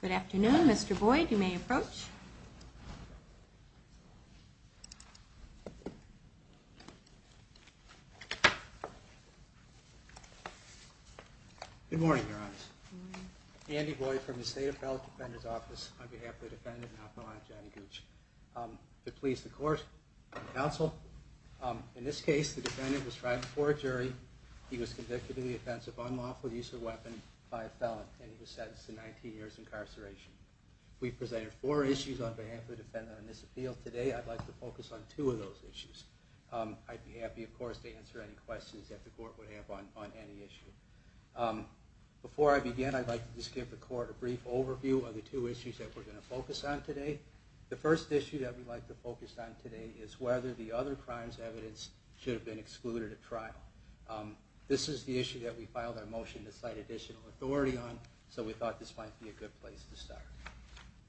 Good afternoon, Mr. Boyd. You may approach. Good morning, Your Honors. Andy Boyd from the State Appellate Defender's Office on behalf of the defendant and I, Johnny Gooch. I'm here to please the court and counsel. In this case, the defendant was tried before a jury, he was convicted of the offense of unlawful use of a weapon by a felon, and he was sentenced to 19 years incarceration. We've presented four issues on behalf of the defendant on this appeal. Today, I'd like to focus on two of those issues. I'd be happy, of course, to answer any questions that the court would have on any issue. Before I begin, I'd like to just give the court a brief overview of the two issues that we're going to focus on today. The first issue that we'd like to focus on today is whether the other crimes evidence should have been excluded at trial. This is the issue that we filed our motion to cite additional authority on, so we thought this might be a good place to start.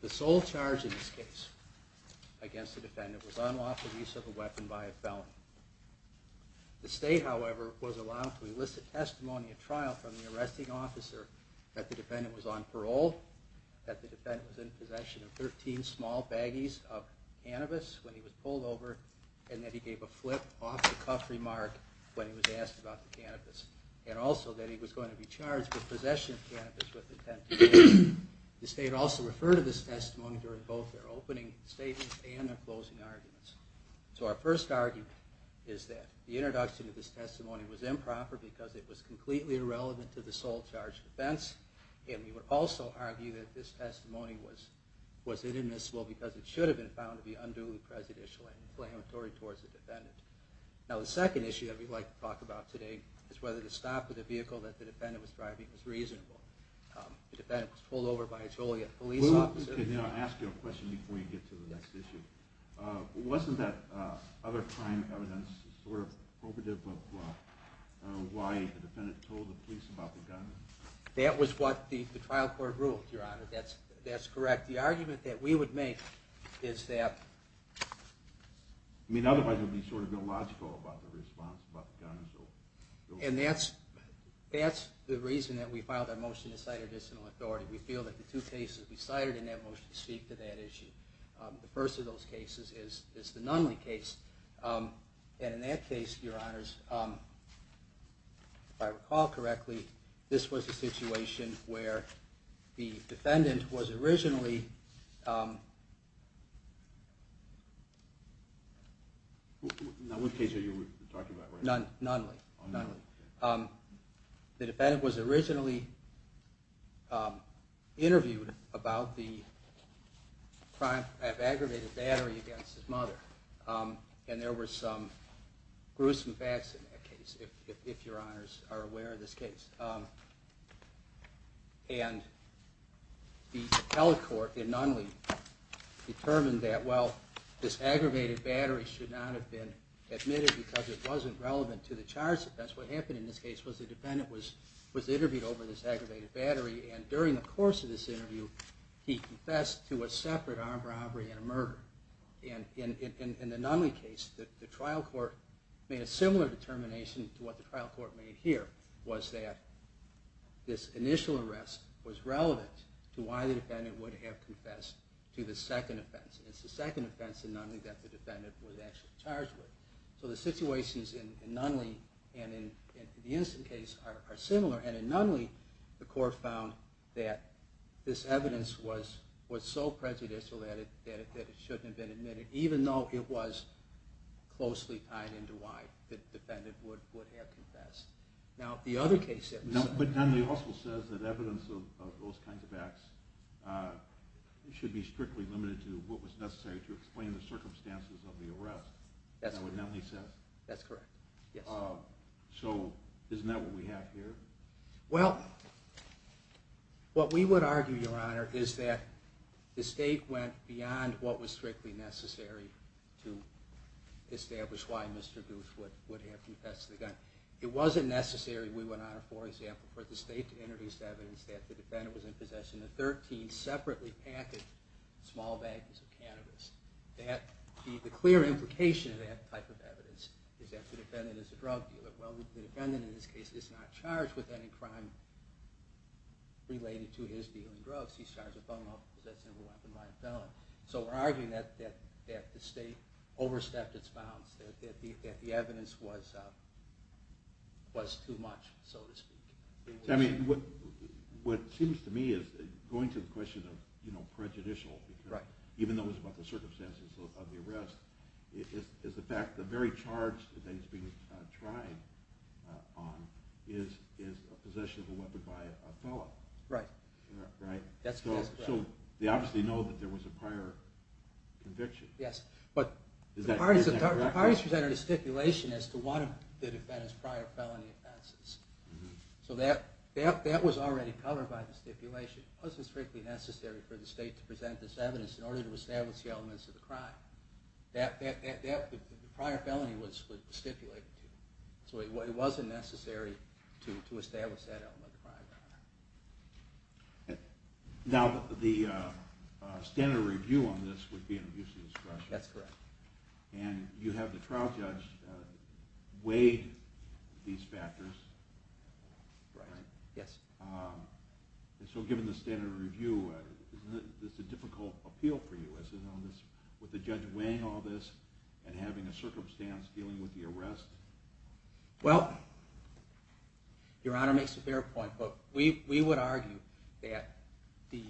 The sole charge in this case against the defendant was unlawful use of a weapon by a felon. The state, however, was allowed to elicit testimony at trial from the arresting officer that the defendant was on parole, that the defendant was in possession of 13 small baggies of cannabis when he was pulled over, and that he gave a flip-off-the-cuff remark when he was asked about the cannabis. And also that he was going to be charged with possession of cannabis with intent to kill. The state also referred to this testimony during both their opening statements and their closing arguments. So our first argument is that the introduction of this testimony was improper because it was completely irrelevant to the sole charge defense, and we would also argue that this testimony was inadmissible because it should have been found to be unduly prejudicial and inflammatory towards the defendant. Now the second issue that we'd like to talk about today is whether the stop of the vehicle that the defendant was driving was reasonable. The defendant was pulled over by a Joliet police officer. Let me ask you a question before you get to the next issue. Wasn't that other crime evidence sort of appropriative of why the defendant told the police about the gun? That was what the trial court ruled, Your Honor. That's correct. The argument that we would make is that... I mean, otherwise it would be sort of illogical about the response about the gun. And that's the reason that we filed our motion to cite additional authority. We feel that the two cases we cited in that motion speak to that issue. The first of those cases is the Nunley case. And in that case, Your Honors, if I recall correctly, this was a situation where the defendant was originally... Now what case are you talking about? Nunley. The defendant was originally interviewed about the crime of aggravated battery against his mother. And there were some gruesome facts in that case, if Your Honors are aware of this case. And the telecourt in Nunley determined that, well, this aggravated battery should not have been admitted because it wasn't relevant to the charge defense. What happened in this case was the defendant was interviewed over this aggravated battery, and during the course of this interview, he confessed to a separate armed robbery and a murder. And in the Nunley case, the trial court made a similar determination to what the trial court made here, was that this initial arrest was relevant to why the defendant would have confessed to the second offense. And it's the second offense in Nunley that the defendant was actually charged with. So the situations in Nunley and in the Instant case are similar. And in Nunley, the court found that this evidence was so prejudicial that it shouldn't have been admitted, even though it was closely tied into why the defendant would have confessed. But Nunley also says that evidence of those kinds of acts should be strictly limited to what was necessary to explain the circumstances of the arrest, is that what Nunley says? That's correct, yes. So isn't that what we have here? Well, what we would argue, Your Honor, is that the state went beyond what was strictly necessary to establish why Mr. Guth would have confessed to the gun. It wasn't necessary, we would honor, for example, for the state to introduce evidence that the defendant was in possession of 13 separately packaged small bags of cannabis. The clear implication of that type of evidence is that the defendant is a drug dealer. Well, the defendant in this case is not charged with any crime related to his dealing drugs. He's charged with unlawful possession of a weapon by a felon. So we're arguing that the state overstepped its bounds, that the evidence was too much, so to speak. What seems to me, going to the question of prejudicial, even though it's about the circumstances of the arrest, is the fact that the very charge that he's being tried on is possession of a weapon by a felon. Right. Right? That's correct. So they obviously know that there was a prior conviction. Yes, but the parties presented a stipulation as to one of the defendant's prior felony offenses. So that was already covered by the stipulation. It wasn't strictly necessary for the state to present this evidence in order to establish the elements of the crime. The prior felony was stipulated to. So it wasn't necessary to establish that element of the crime. Now, the standard review on this would be an abuse of discretion. That's correct. And you have the trial judge weigh these factors. Right. Yes. So given the standard review, isn't this a difficult appeal for you? With the judge weighing all this and having a circumstance dealing with the arrest? Well, Your Honor makes a fair point, but we would argue that the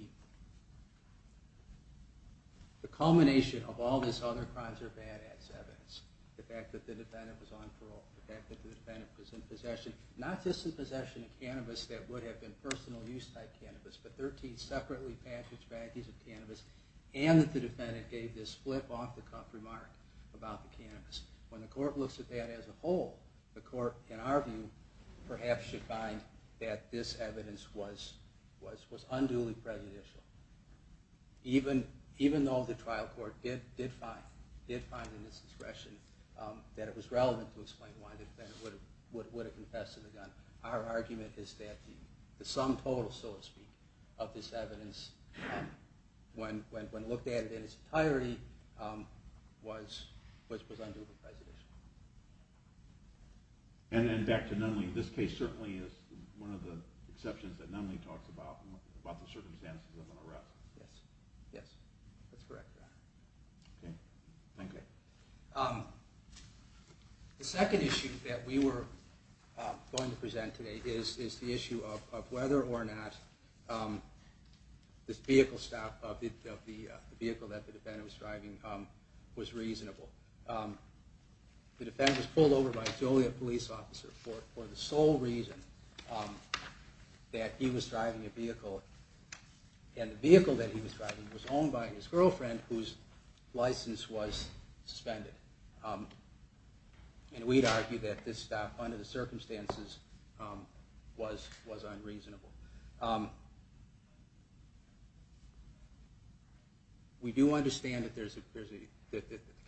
culmination of all this other crimes are bad ass evidence. The fact that the defendant was on parole, the fact that the defendant was in possession, not just in possession of cannabis that would have been personal use type cannabis, but 13 separately packaged packages of cannabis, and that the defendant gave this flip off the cuff remark about the cannabis. When the court looks at that as a whole, the court, in our view, perhaps should find that this evidence was unduly prejudicial. Even though the trial court did find in its discretion that it was relevant to explain why the defendant would have confessed to the gun, our argument is that the sum total, so to speak, of this evidence, when looked at in its entirety, was unduly prejudicial. And then back to Nunley, this case certainly is one of the exceptions that Nunley talks about, about the circumstances of an arrest. Yes. Yes. That's correct, Your Honor. Okay. Thank you. The second issue that we were going to present today is the issue of whether or not this vehicle stop of the vehicle that the defendant was driving was reasonable. The defendant was pulled over by a Joliet police officer for the sole reason that he was driving a vehicle, and the vehicle that he was driving was owned by his girlfriend, whose license was suspended. And we'd argue that this stop, under the circumstances, was unreasonable. We do understand that the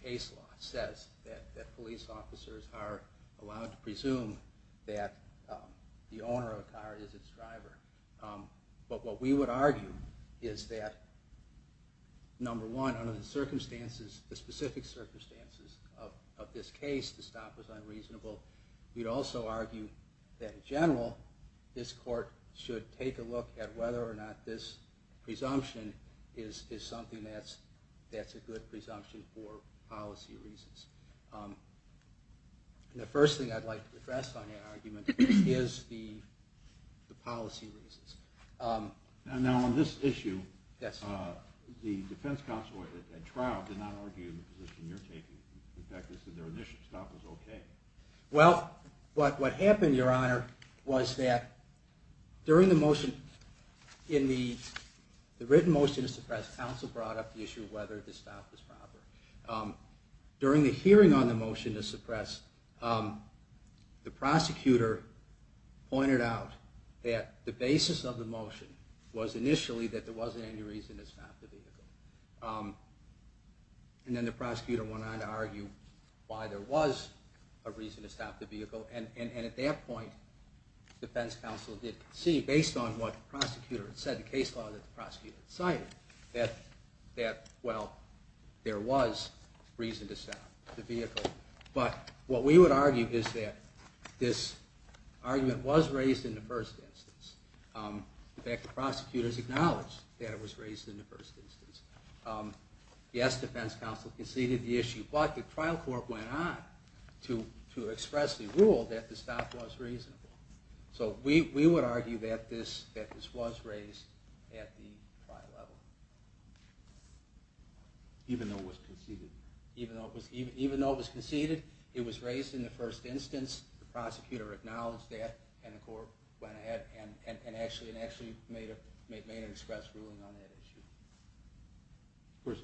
case law says that police officers are allowed to presume that the owner of the car is its driver. But what we would argue is that, number one, under the specific circumstances of this case, the stop was unreasonable. We'd also argue that, in general, this court should take a look at whether or not this presumption is something that's a good presumption for policy reasons. And the first thing I'd like to address on that argument is the policy reasons. Now, on this issue, the defense counsel at trial did not argue the position you're taking. In fact, they said their initial stop was okay. Well, what happened, Your Honor, was that during the motion, in the written motion to suppress, the defense counsel brought up the issue of whether the stop was proper. During the hearing on the motion to suppress, the prosecutor pointed out that the basis of the motion was initially that there wasn't any reason to stop the vehicle. And then the prosecutor went on to argue why there was a reason to stop the vehicle. And at that point, the defense counsel did concede, based on what the prosecutor had said, the case law that the prosecutor had cited, that, well, there was reason to stop the vehicle. But what we would argue is that this argument was raised in the first instance. In fact, the prosecutors acknowledged that it was raised in the first instance. Yes, the defense counsel conceded the issue. But the trial court went on to express the rule that the stop was reasonable. So we would argue that this was raised at the trial level. Even though it was conceded? Even though it was conceded, it was raised in the first instance. The prosecutor acknowledged that, and the court went ahead and actually made an express ruling on that issue. Of course,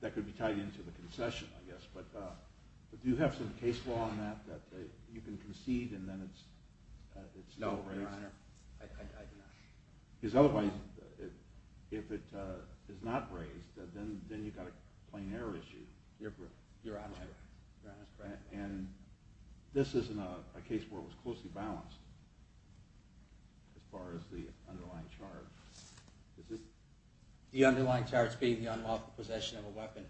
that could be tied into the concession, I guess. But do you have some case law on that that you can concede and then it's still raised? No, Your Honor, I do not. Because otherwise, if it is not raised, then you've got a plain error issue. You're honest, Your Honor. And this isn't a case where it was closely balanced as far as the underlying charge. The underlying charge being the unlawful possession of a weapon.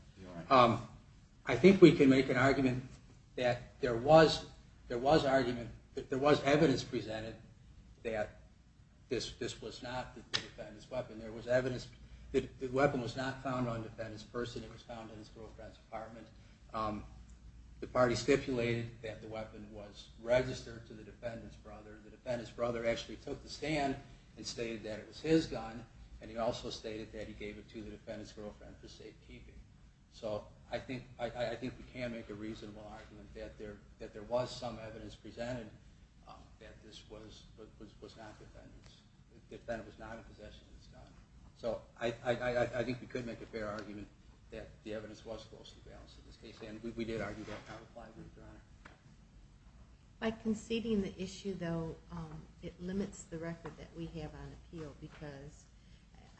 I think we can make an argument that there was evidence presented that this was not the defendant's weapon. The weapon was not found on the defendant's person. It was found in his girlfriend's apartment. The party stipulated that the weapon was registered to the defendant's brother. The defendant's brother actually took the stand and stated that it was his gun. And he also stated that he gave it to the defendant's girlfriend for safekeeping. So I think we can make a reasonable argument that there was some evidence presented that this was not the defendant's. So I think we could make a fair argument that the evidence was closely balanced in this case. And we did argue that kind of claim, Your Honor. By conceding the issue, though, it limits the record that we have on appeal. Because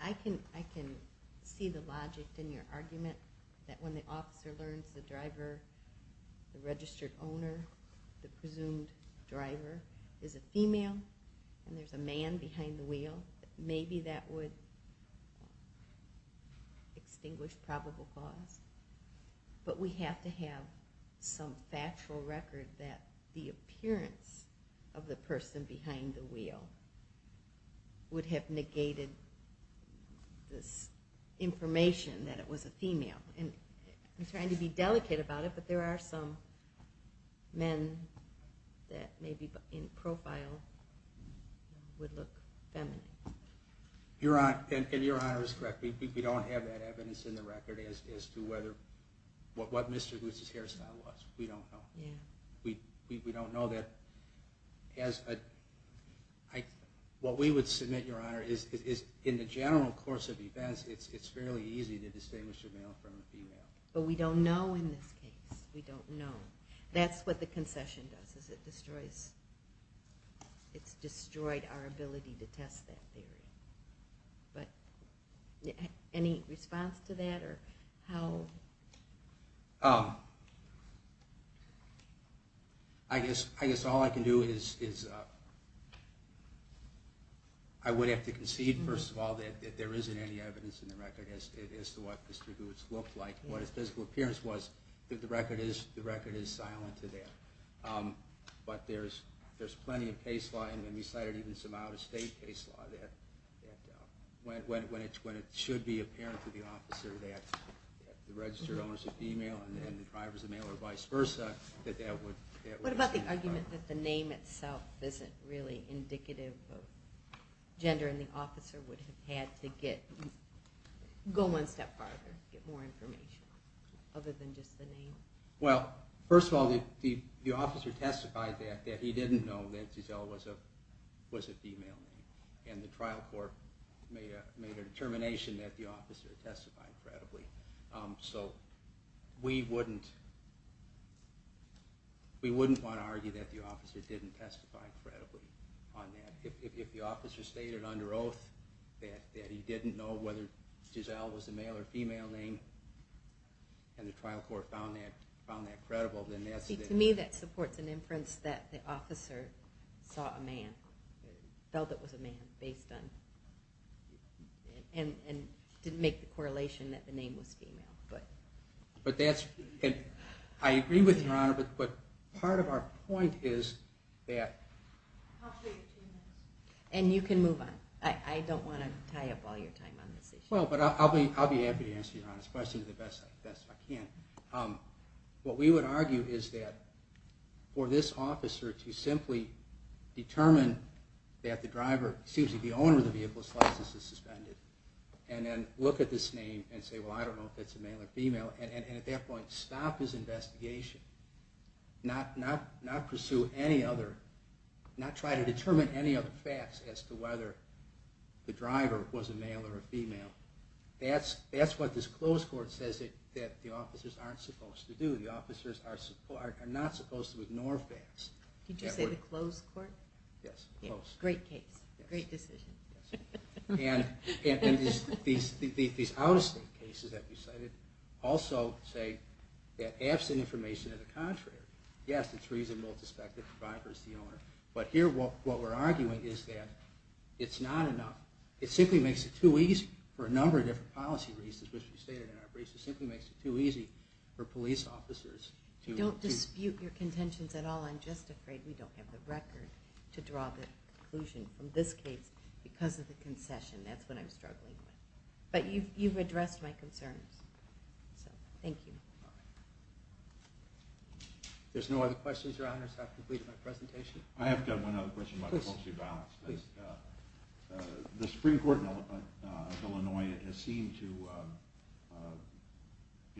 I can see the logic in your argument that when the officer learns the driver, the registered owner, the presumed driver is a female and there's a man behind the wheel, maybe that would extinguish probable cause. But we have to have some factual record that the appearance of the person behind the wheel would have negated this information that it was a female. And I'm trying to be delicate about it, but there are some men that maybe in profile would look feminine. And Your Honor is correct. We don't have that evidence in the record as to what Mr. Gutz's hairstyle was. We don't know. We don't know that. What we would submit, Your Honor, is in the general course of events, it's fairly easy to distinguish a male from a female. But we don't know in this case. We don't know. That's what the concession does. It's destroyed our ability to test that theory. Any response to that? I guess all I can do is I would have to concede, first of all, that there isn't any evidence in the record as to what Mr. Gutz looked like. What his physical appearance was, the record is silent to that. But there's plenty of case law, and we cited even some out-of-state case law, when it should be apparent to the officer that the registered owner is a female and the driver is a male or vice versa. What about the argument that the name itself isn't really indicative of gender and the officer would have had to go one step farther, get more information, other than just the name? Well, first of all, the officer testified that he didn't know that Giselle was a female. And the trial court made a determination that the officer testified credibly. So we wouldn't want to argue that the officer didn't testify credibly on that. If the officer stated under oath that he didn't know whether Giselle was a male or female name and the trial court found that credible, then that's the case. To me, that supports an inference that the officer saw a man, felt it was a man, and didn't make the correlation that the name was female. I agree with Your Honor, but part of our point is that... I'll show you two minutes. And you can move on. I don't want to tie up all your time on this issue. Well, but I'll be happy to answer Your Honor's question the best I can. What we would argue is that for this officer to simply determine that the driver, excuse me, the owner of the vehicle's license is suspended, and then look at this name and say, well, I don't know if it's a male or female, and at that point stop his investigation, not pursue any other, not try to determine any other facts as to whether the driver was a male or a female, that's what this closed court says that the officers aren't supposed to do. The officers are not supposed to ignore facts. Did you say the closed court? Yes, closed. Great case. Great decision. And these out-of-state cases that we cited also say that absent information Yes, it's reasonable to suspect that the driver's the owner. But here what we're arguing is that it's not enough. It simply makes it too easy for a number of different policy reasons, which we stated in our briefs. It simply makes it too easy for police officers to... Don't dispute your contentions at all. I'm just afraid we don't have the record to draw the conclusion from this case because of the concession. That's what I'm struggling with. But you've addressed my concerns. So, thank you. If there's no other questions, Your Honors, I have completed my presentation. I have one other question about policy balance. Please. The Supreme Court of Illinois has seemed to,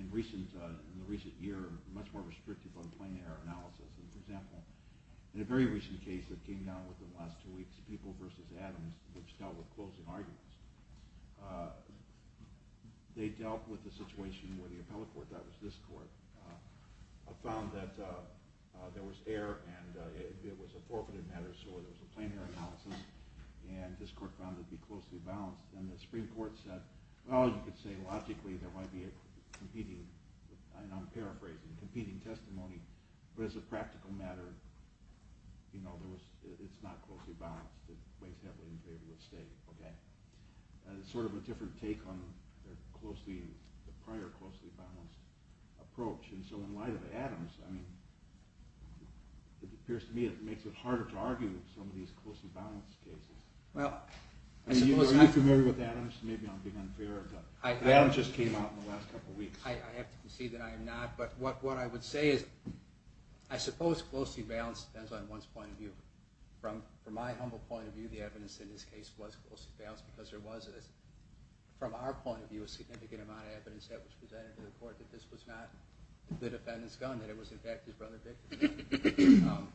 in the recent year, much more restrictive on plain error analysis. For example, in a very recent case that came down within the last two weeks, People v. Adams, which dealt with closing arguments, they dealt with the situation where the appellate court, that was this court, found that there was error and it was a forfeited matter, so there was a plain error analysis, and this court found it to be closely balanced. And the Supreme Court said, well, you could say logically there might be a competing, and I'm paraphrasing, competing testimony, but as a practical matter, it's not closely balanced. It weighs heavily in favor of the state. It's sort of a different take on the prior closely balanced approach. And so in light of Adams, I mean, it appears to me it makes it harder to argue some of these closely balanced cases. Are you familiar with Adams? Maybe I'm being unfair, but Adams just came out in the last couple weeks. I have to concede that I am not, but what I would say is, I suppose closely balanced depends on one's point of view. From my humble point of view, the evidence in this case was closely balanced because there was, from our point of view, a significant amount of evidence that was presented to the court that this was not the defendant's gun, that it was, in fact, his brother Victor's gun.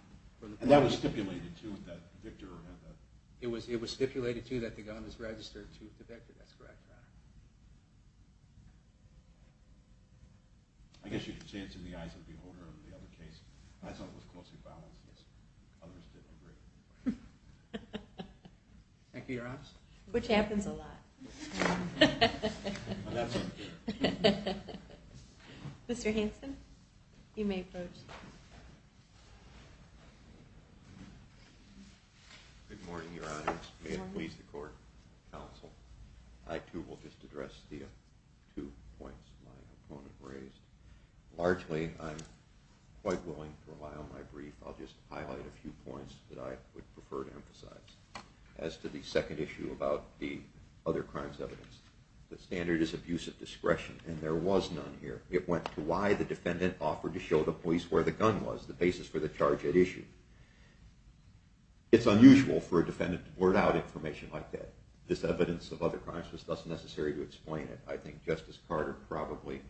And that was stipulated, too, that Victor had that. It was stipulated, too, that the gun was registered to the victim. That's correct. I guess you could say it's in the eyes of the beholder of the other case. I thought it was closely balanced, yes. Others didn't agree. Thank you, Your Honor. Which happens a lot. Mr. Hanson, you may approach. Good morning, Your Honor. May it please the court, counsel. I, too, will just address the two points my opponent raised. Largely, I'm quite willing to rely on my brief. I'll just highlight a few points that I would prefer to emphasize. As to the second issue about the other crimes evidence, the standard is abuse of discretion, and there was none here. It went to why the defendant offered to show the police where the gun was, the basis for the charge at issue. It's unusual for a defendant to blurt out information like that. This evidence of other crimes was thus necessary to explain it. I think Justice Carter probably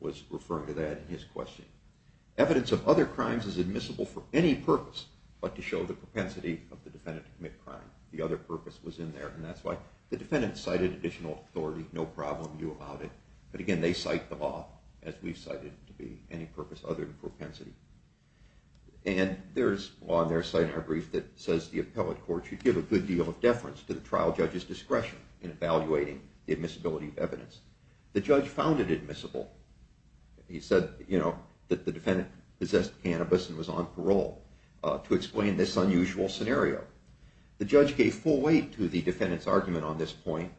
was referring to that in his question. Evidence of other crimes is admissible for any purpose but to show the propensity of the defendant to commit a crime. The other purpose was in there, and that's why the defendant cited additional authority, no problem, you allowed it. But, again, they cite the law as we cite it to be any purpose other than propensity. And there's law on their side in our brief that says the appellate court should give a good deal of deference to the trial judge's discretion in evaluating the admissibility of evidence. The judge found it admissible. He said that the defendant possessed cannabis and was on parole to explain this unusual scenario. The judge gave full weight to the defendant's argument on this point.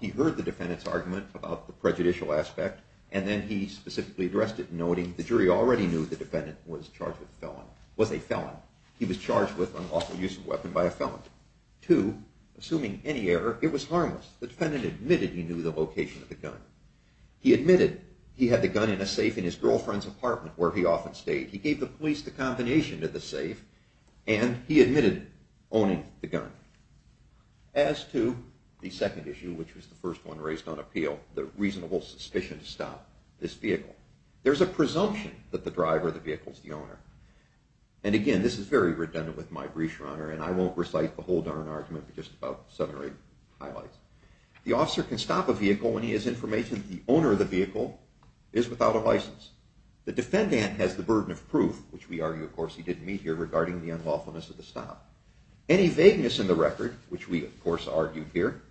He heard the defendant's argument about the prejudicial aspect, and then he specifically addressed it, noting the jury already knew the defendant was a felon. He was charged with unlawful use of a weapon by a felon. Two, assuming any error, it was harmless. The defendant admitted he knew the location of the gun. He admitted he had the gun in a safe in his girlfriend's apartment, where he often stayed. He gave the police the combination of the safe, and he admitted owning the gun. As to the second issue, which was the first one raised on appeal, the reasonable suspicion to stop this vehicle, there's a presumption that the driver of the vehicle is the owner. And, again, this is very redundant with my brief, Your Honor, and I won't recite the whole darn argument, but just about seven or eight highlights. The officer can stop a vehicle when he has information that the owner of the vehicle is without a license. The defendant has the burden of proof, which we argue, of course, he didn't meet here, regarding the unlawfulness of the stop. Any vagueness in the record, which we, of course, argued here,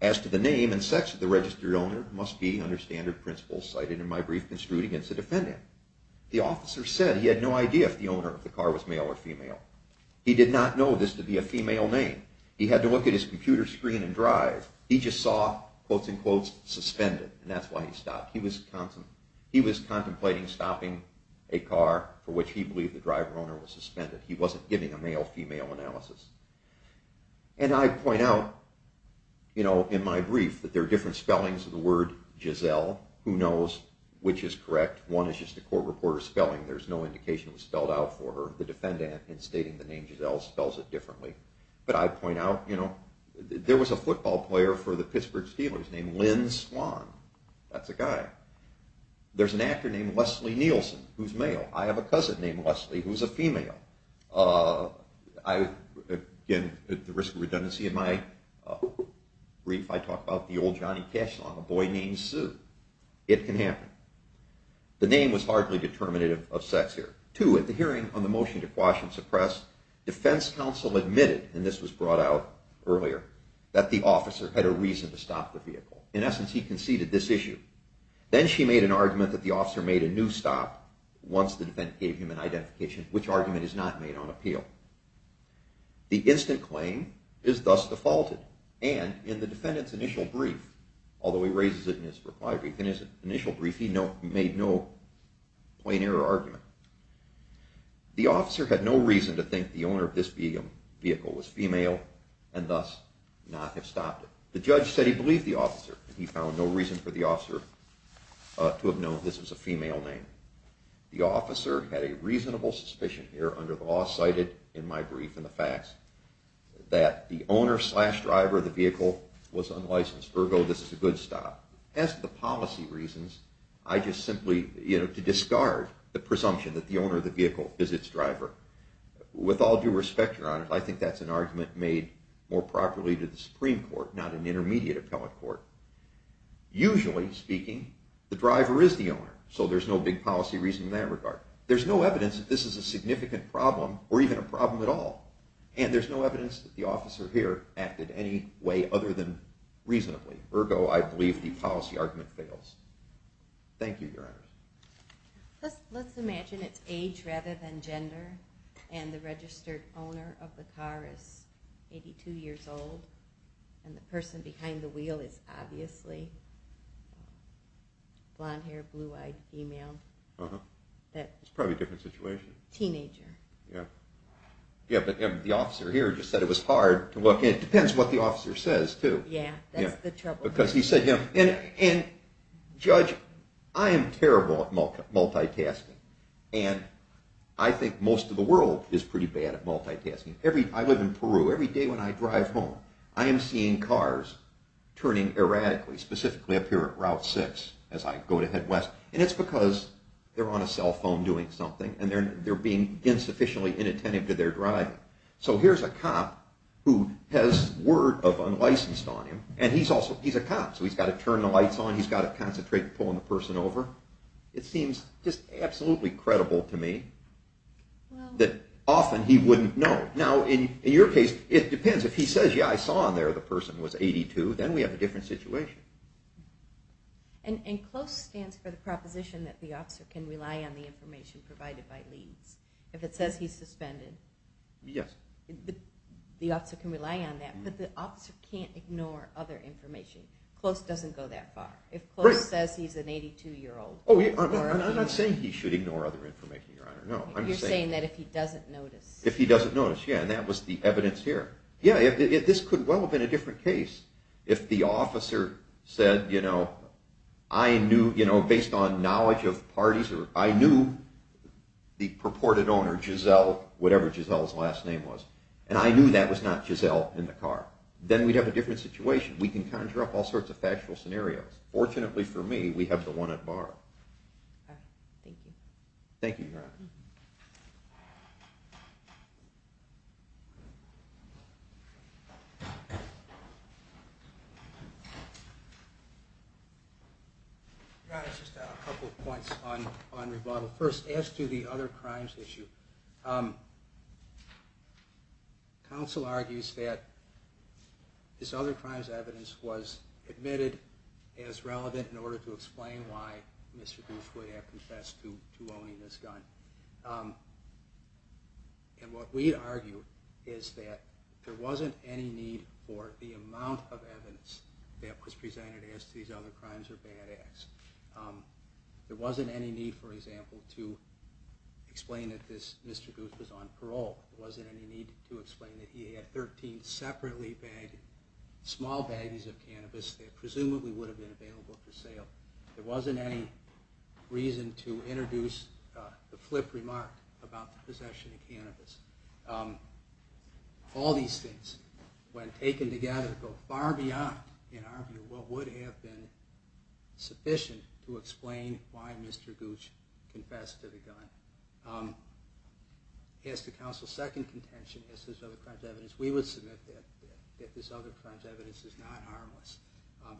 as to the name and sex of the registered owner, must be under standard principles cited in my brief construed against the defendant. He did not know this to be a female name. He had to look at his computer screen and drive. He just saw, quotes and quotes, suspended, and that's why he stopped. He was contemplating stopping a car for which he believed the driver-owner was suspended. He wasn't giving a male-female analysis. And I point out, you know, in my brief, that there are different spellings of the word Giselle. Who knows which is correct? One is just a court reporter's spelling. There's no indication it was spelled out for her. The defendant, in stating the name Giselle, spells it differently. But I point out, you know, there was a football player for the Pittsburgh Steelers named Lynn Swan. That's a guy. There's an actor named Leslie Nielsen, who's male. I have a cousin named Leslie, who's a female. Again, at the risk of redundancy in my brief, I talk about the old Johnny Cash song, A Boy Named Sue. It can happen. The name was hardly determinative of sex here. Two, at the hearing on the motion to quash and suppress, defense counsel admitted, and this was brought out earlier, that the officer had a reason to stop the vehicle. In essence, he conceded this issue. Then she made an argument that the officer made a new stop once the defendant gave him an identification, which argument is not made on appeal. The instant claim is thus defaulted. And in the defendant's initial brief, although he raises it in his reply brief, in his initial brief he made no plain-error argument. The officer had no reason to think the owner of this vehicle was female and thus not have stopped it. The judge said he believed the officer. He found no reason for the officer to have known this was a female name. The officer had a reasonable suspicion here, under the law cited in my brief and the facts, that the owner-slash-driver of the vehicle was unlicensed, ergo this is a good stop. As to the policy reasons, I just simply, you know, to discard the presumption that the owner of the vehicle is its driver. With all due respect, Your Honor, I think that's an argument made more properly to the Supreme Court, not an intermediate appellate court. Usually speaking, the driver is the owner, so there's no big policy reason in that regard. There's no evidence that this is a significant problem or even a problem at all. And there's no evidence that the officer here acted any way other than reasonably. Ergo, I believe the policy argument fails. Thank you, Your Honor. Let's imagine it's age rather than gender, and the registered owner of the car is 82 years old, and the person behind the wheel is obviously blonde-haired, blue-eyed female. It's probably a different situation. Teenager. Yeah, but the officer here just said it was hard to look, and it depends what the officer says, too. Yeah, that's the trouble. And, Judge, I am terrible at multitasking, and I think most of the world is pretty bad at multitasking. I live in Peru. Every day when I drive home, I am seeing cars turning erratically, specifically up here at Route 6 as I go to head west. And it's because they're on a cell phone doing something, and they're being insufficiently inattentive to their driving. So here's a cop who has word of unlicensed on him, and he's a cop, so he's got to turn the lights on, he's got to concentrate on pulling the person over. It seems just absolutely credible to me that often he wouldn't know. Now, in your case, it depends. If he says, yeah, I saw on there the person was 82, then we have a different situation. And CLOS stands for the proposition that the officer can rely on the information provided by Leeds. If it says he's suspended. Yes. The officer can rely on that, but the officer can't ignore other information. CLOS doesn't go that far. If CLOS says he's an 82-year-old... Oh, I'm not saying he should ignore other information, Your Honor, no. You're saying that if he doesn't notice. If he doesn't notice, yeah, and that was the evidence here. Yeah, this could well have been a different case if the officer said, you know, I knew, you know, based on knowledge of parties, I knew the purported owner, Giselle, whatever Giselle's last name was, and I knew that was not Giselle in the car. Then we'd have a different situation. We can conjure up all sorts of factual scenarios. Fortunately for me, we have the one at bar. Thank you. Thank you, Your Honor. Thank you. Your Honor, just a couple of points on rebuttal. First, as to the other crimes issue, counsel argues that this other crimes evidence was admitted as relevant in order to explain why Mr. Goose would have confessed to owning this gun. And what we argue is that there wasn't any need for the amount of evidence that was presented as to these other crimes or bad acts. There wasn't any need, for example, to explain that Mr. Goose was on parole. There wasn't any need to explain that he had 13 separately bagged, small baggies of cannabis that presumably would have been available for sale. There wasn't any reason to introduce the flip remark about the possession of cannabis. All these things, when taken together, go far beyond, in our view, what would have been sufficient to explain why Mr. Goose confessed to the gun. As to counsel's second contention, as to this other crimes evidence, we would submit that this other crimes evidence is not harmless.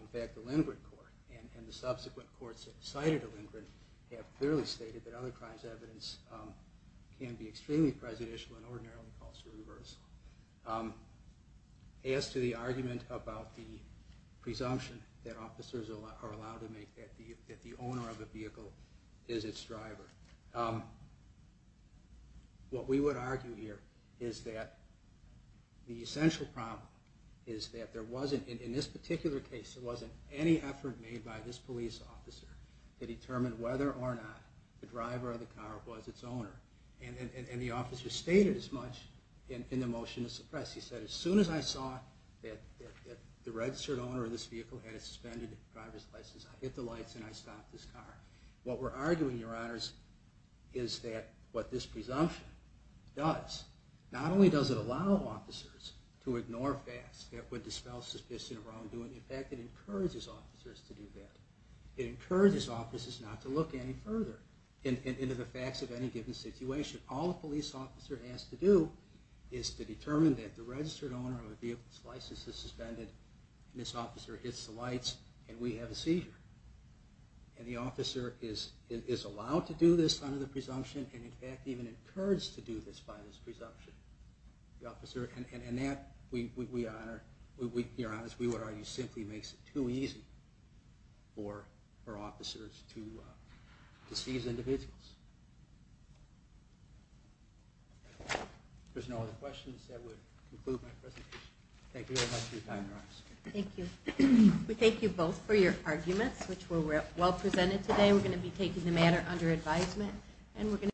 In fact, the Lindgren court and the subsequent courts that cited the Lindgren have clearly stated that other crimes evidence can be extremely prejudicial and ordinarily calls for reversal. As to the argument about the presumption that officers are allowed to make that the owner of a vehicle is its driver, what we would argue here is that the essential problem is that there wasn't, in this particular case, there wasn't any effort made by this police officer to determine whether or not the driver of the car was its owner. And the officer stated as much in the motion to suppress. He said, as soon as I saw that the registered owner of this vehicle had a suspended driver's license, I hit the lights and I stopped this car. What we're arguing, Your Honors, is that what this presumption does, not only does it allow officers to ignore facts that would dispel suspicion of wrongdoing, in fact, it encourages officers to do that. It encourages officers not to look any further into the facts of any given situation. All a police officer has to do is to determine that the registered owner of a vehicle's license is suspended, and this officer hits the lights, and we have a seizure. And the officer is allowed to do this under the presumption, and in fact even encouraged to do this by this presumption. And that, Your Honors, we would argue simply makes it too easy for officers to seize individuals. If there's no other questions, that would conclude my presentation. Thank you very much for your time, Your Honors. Thank you. We thank you both for your arguments, which were well presented today. We're going to be taking the matter under advisement, and we're going to be back in a little bit.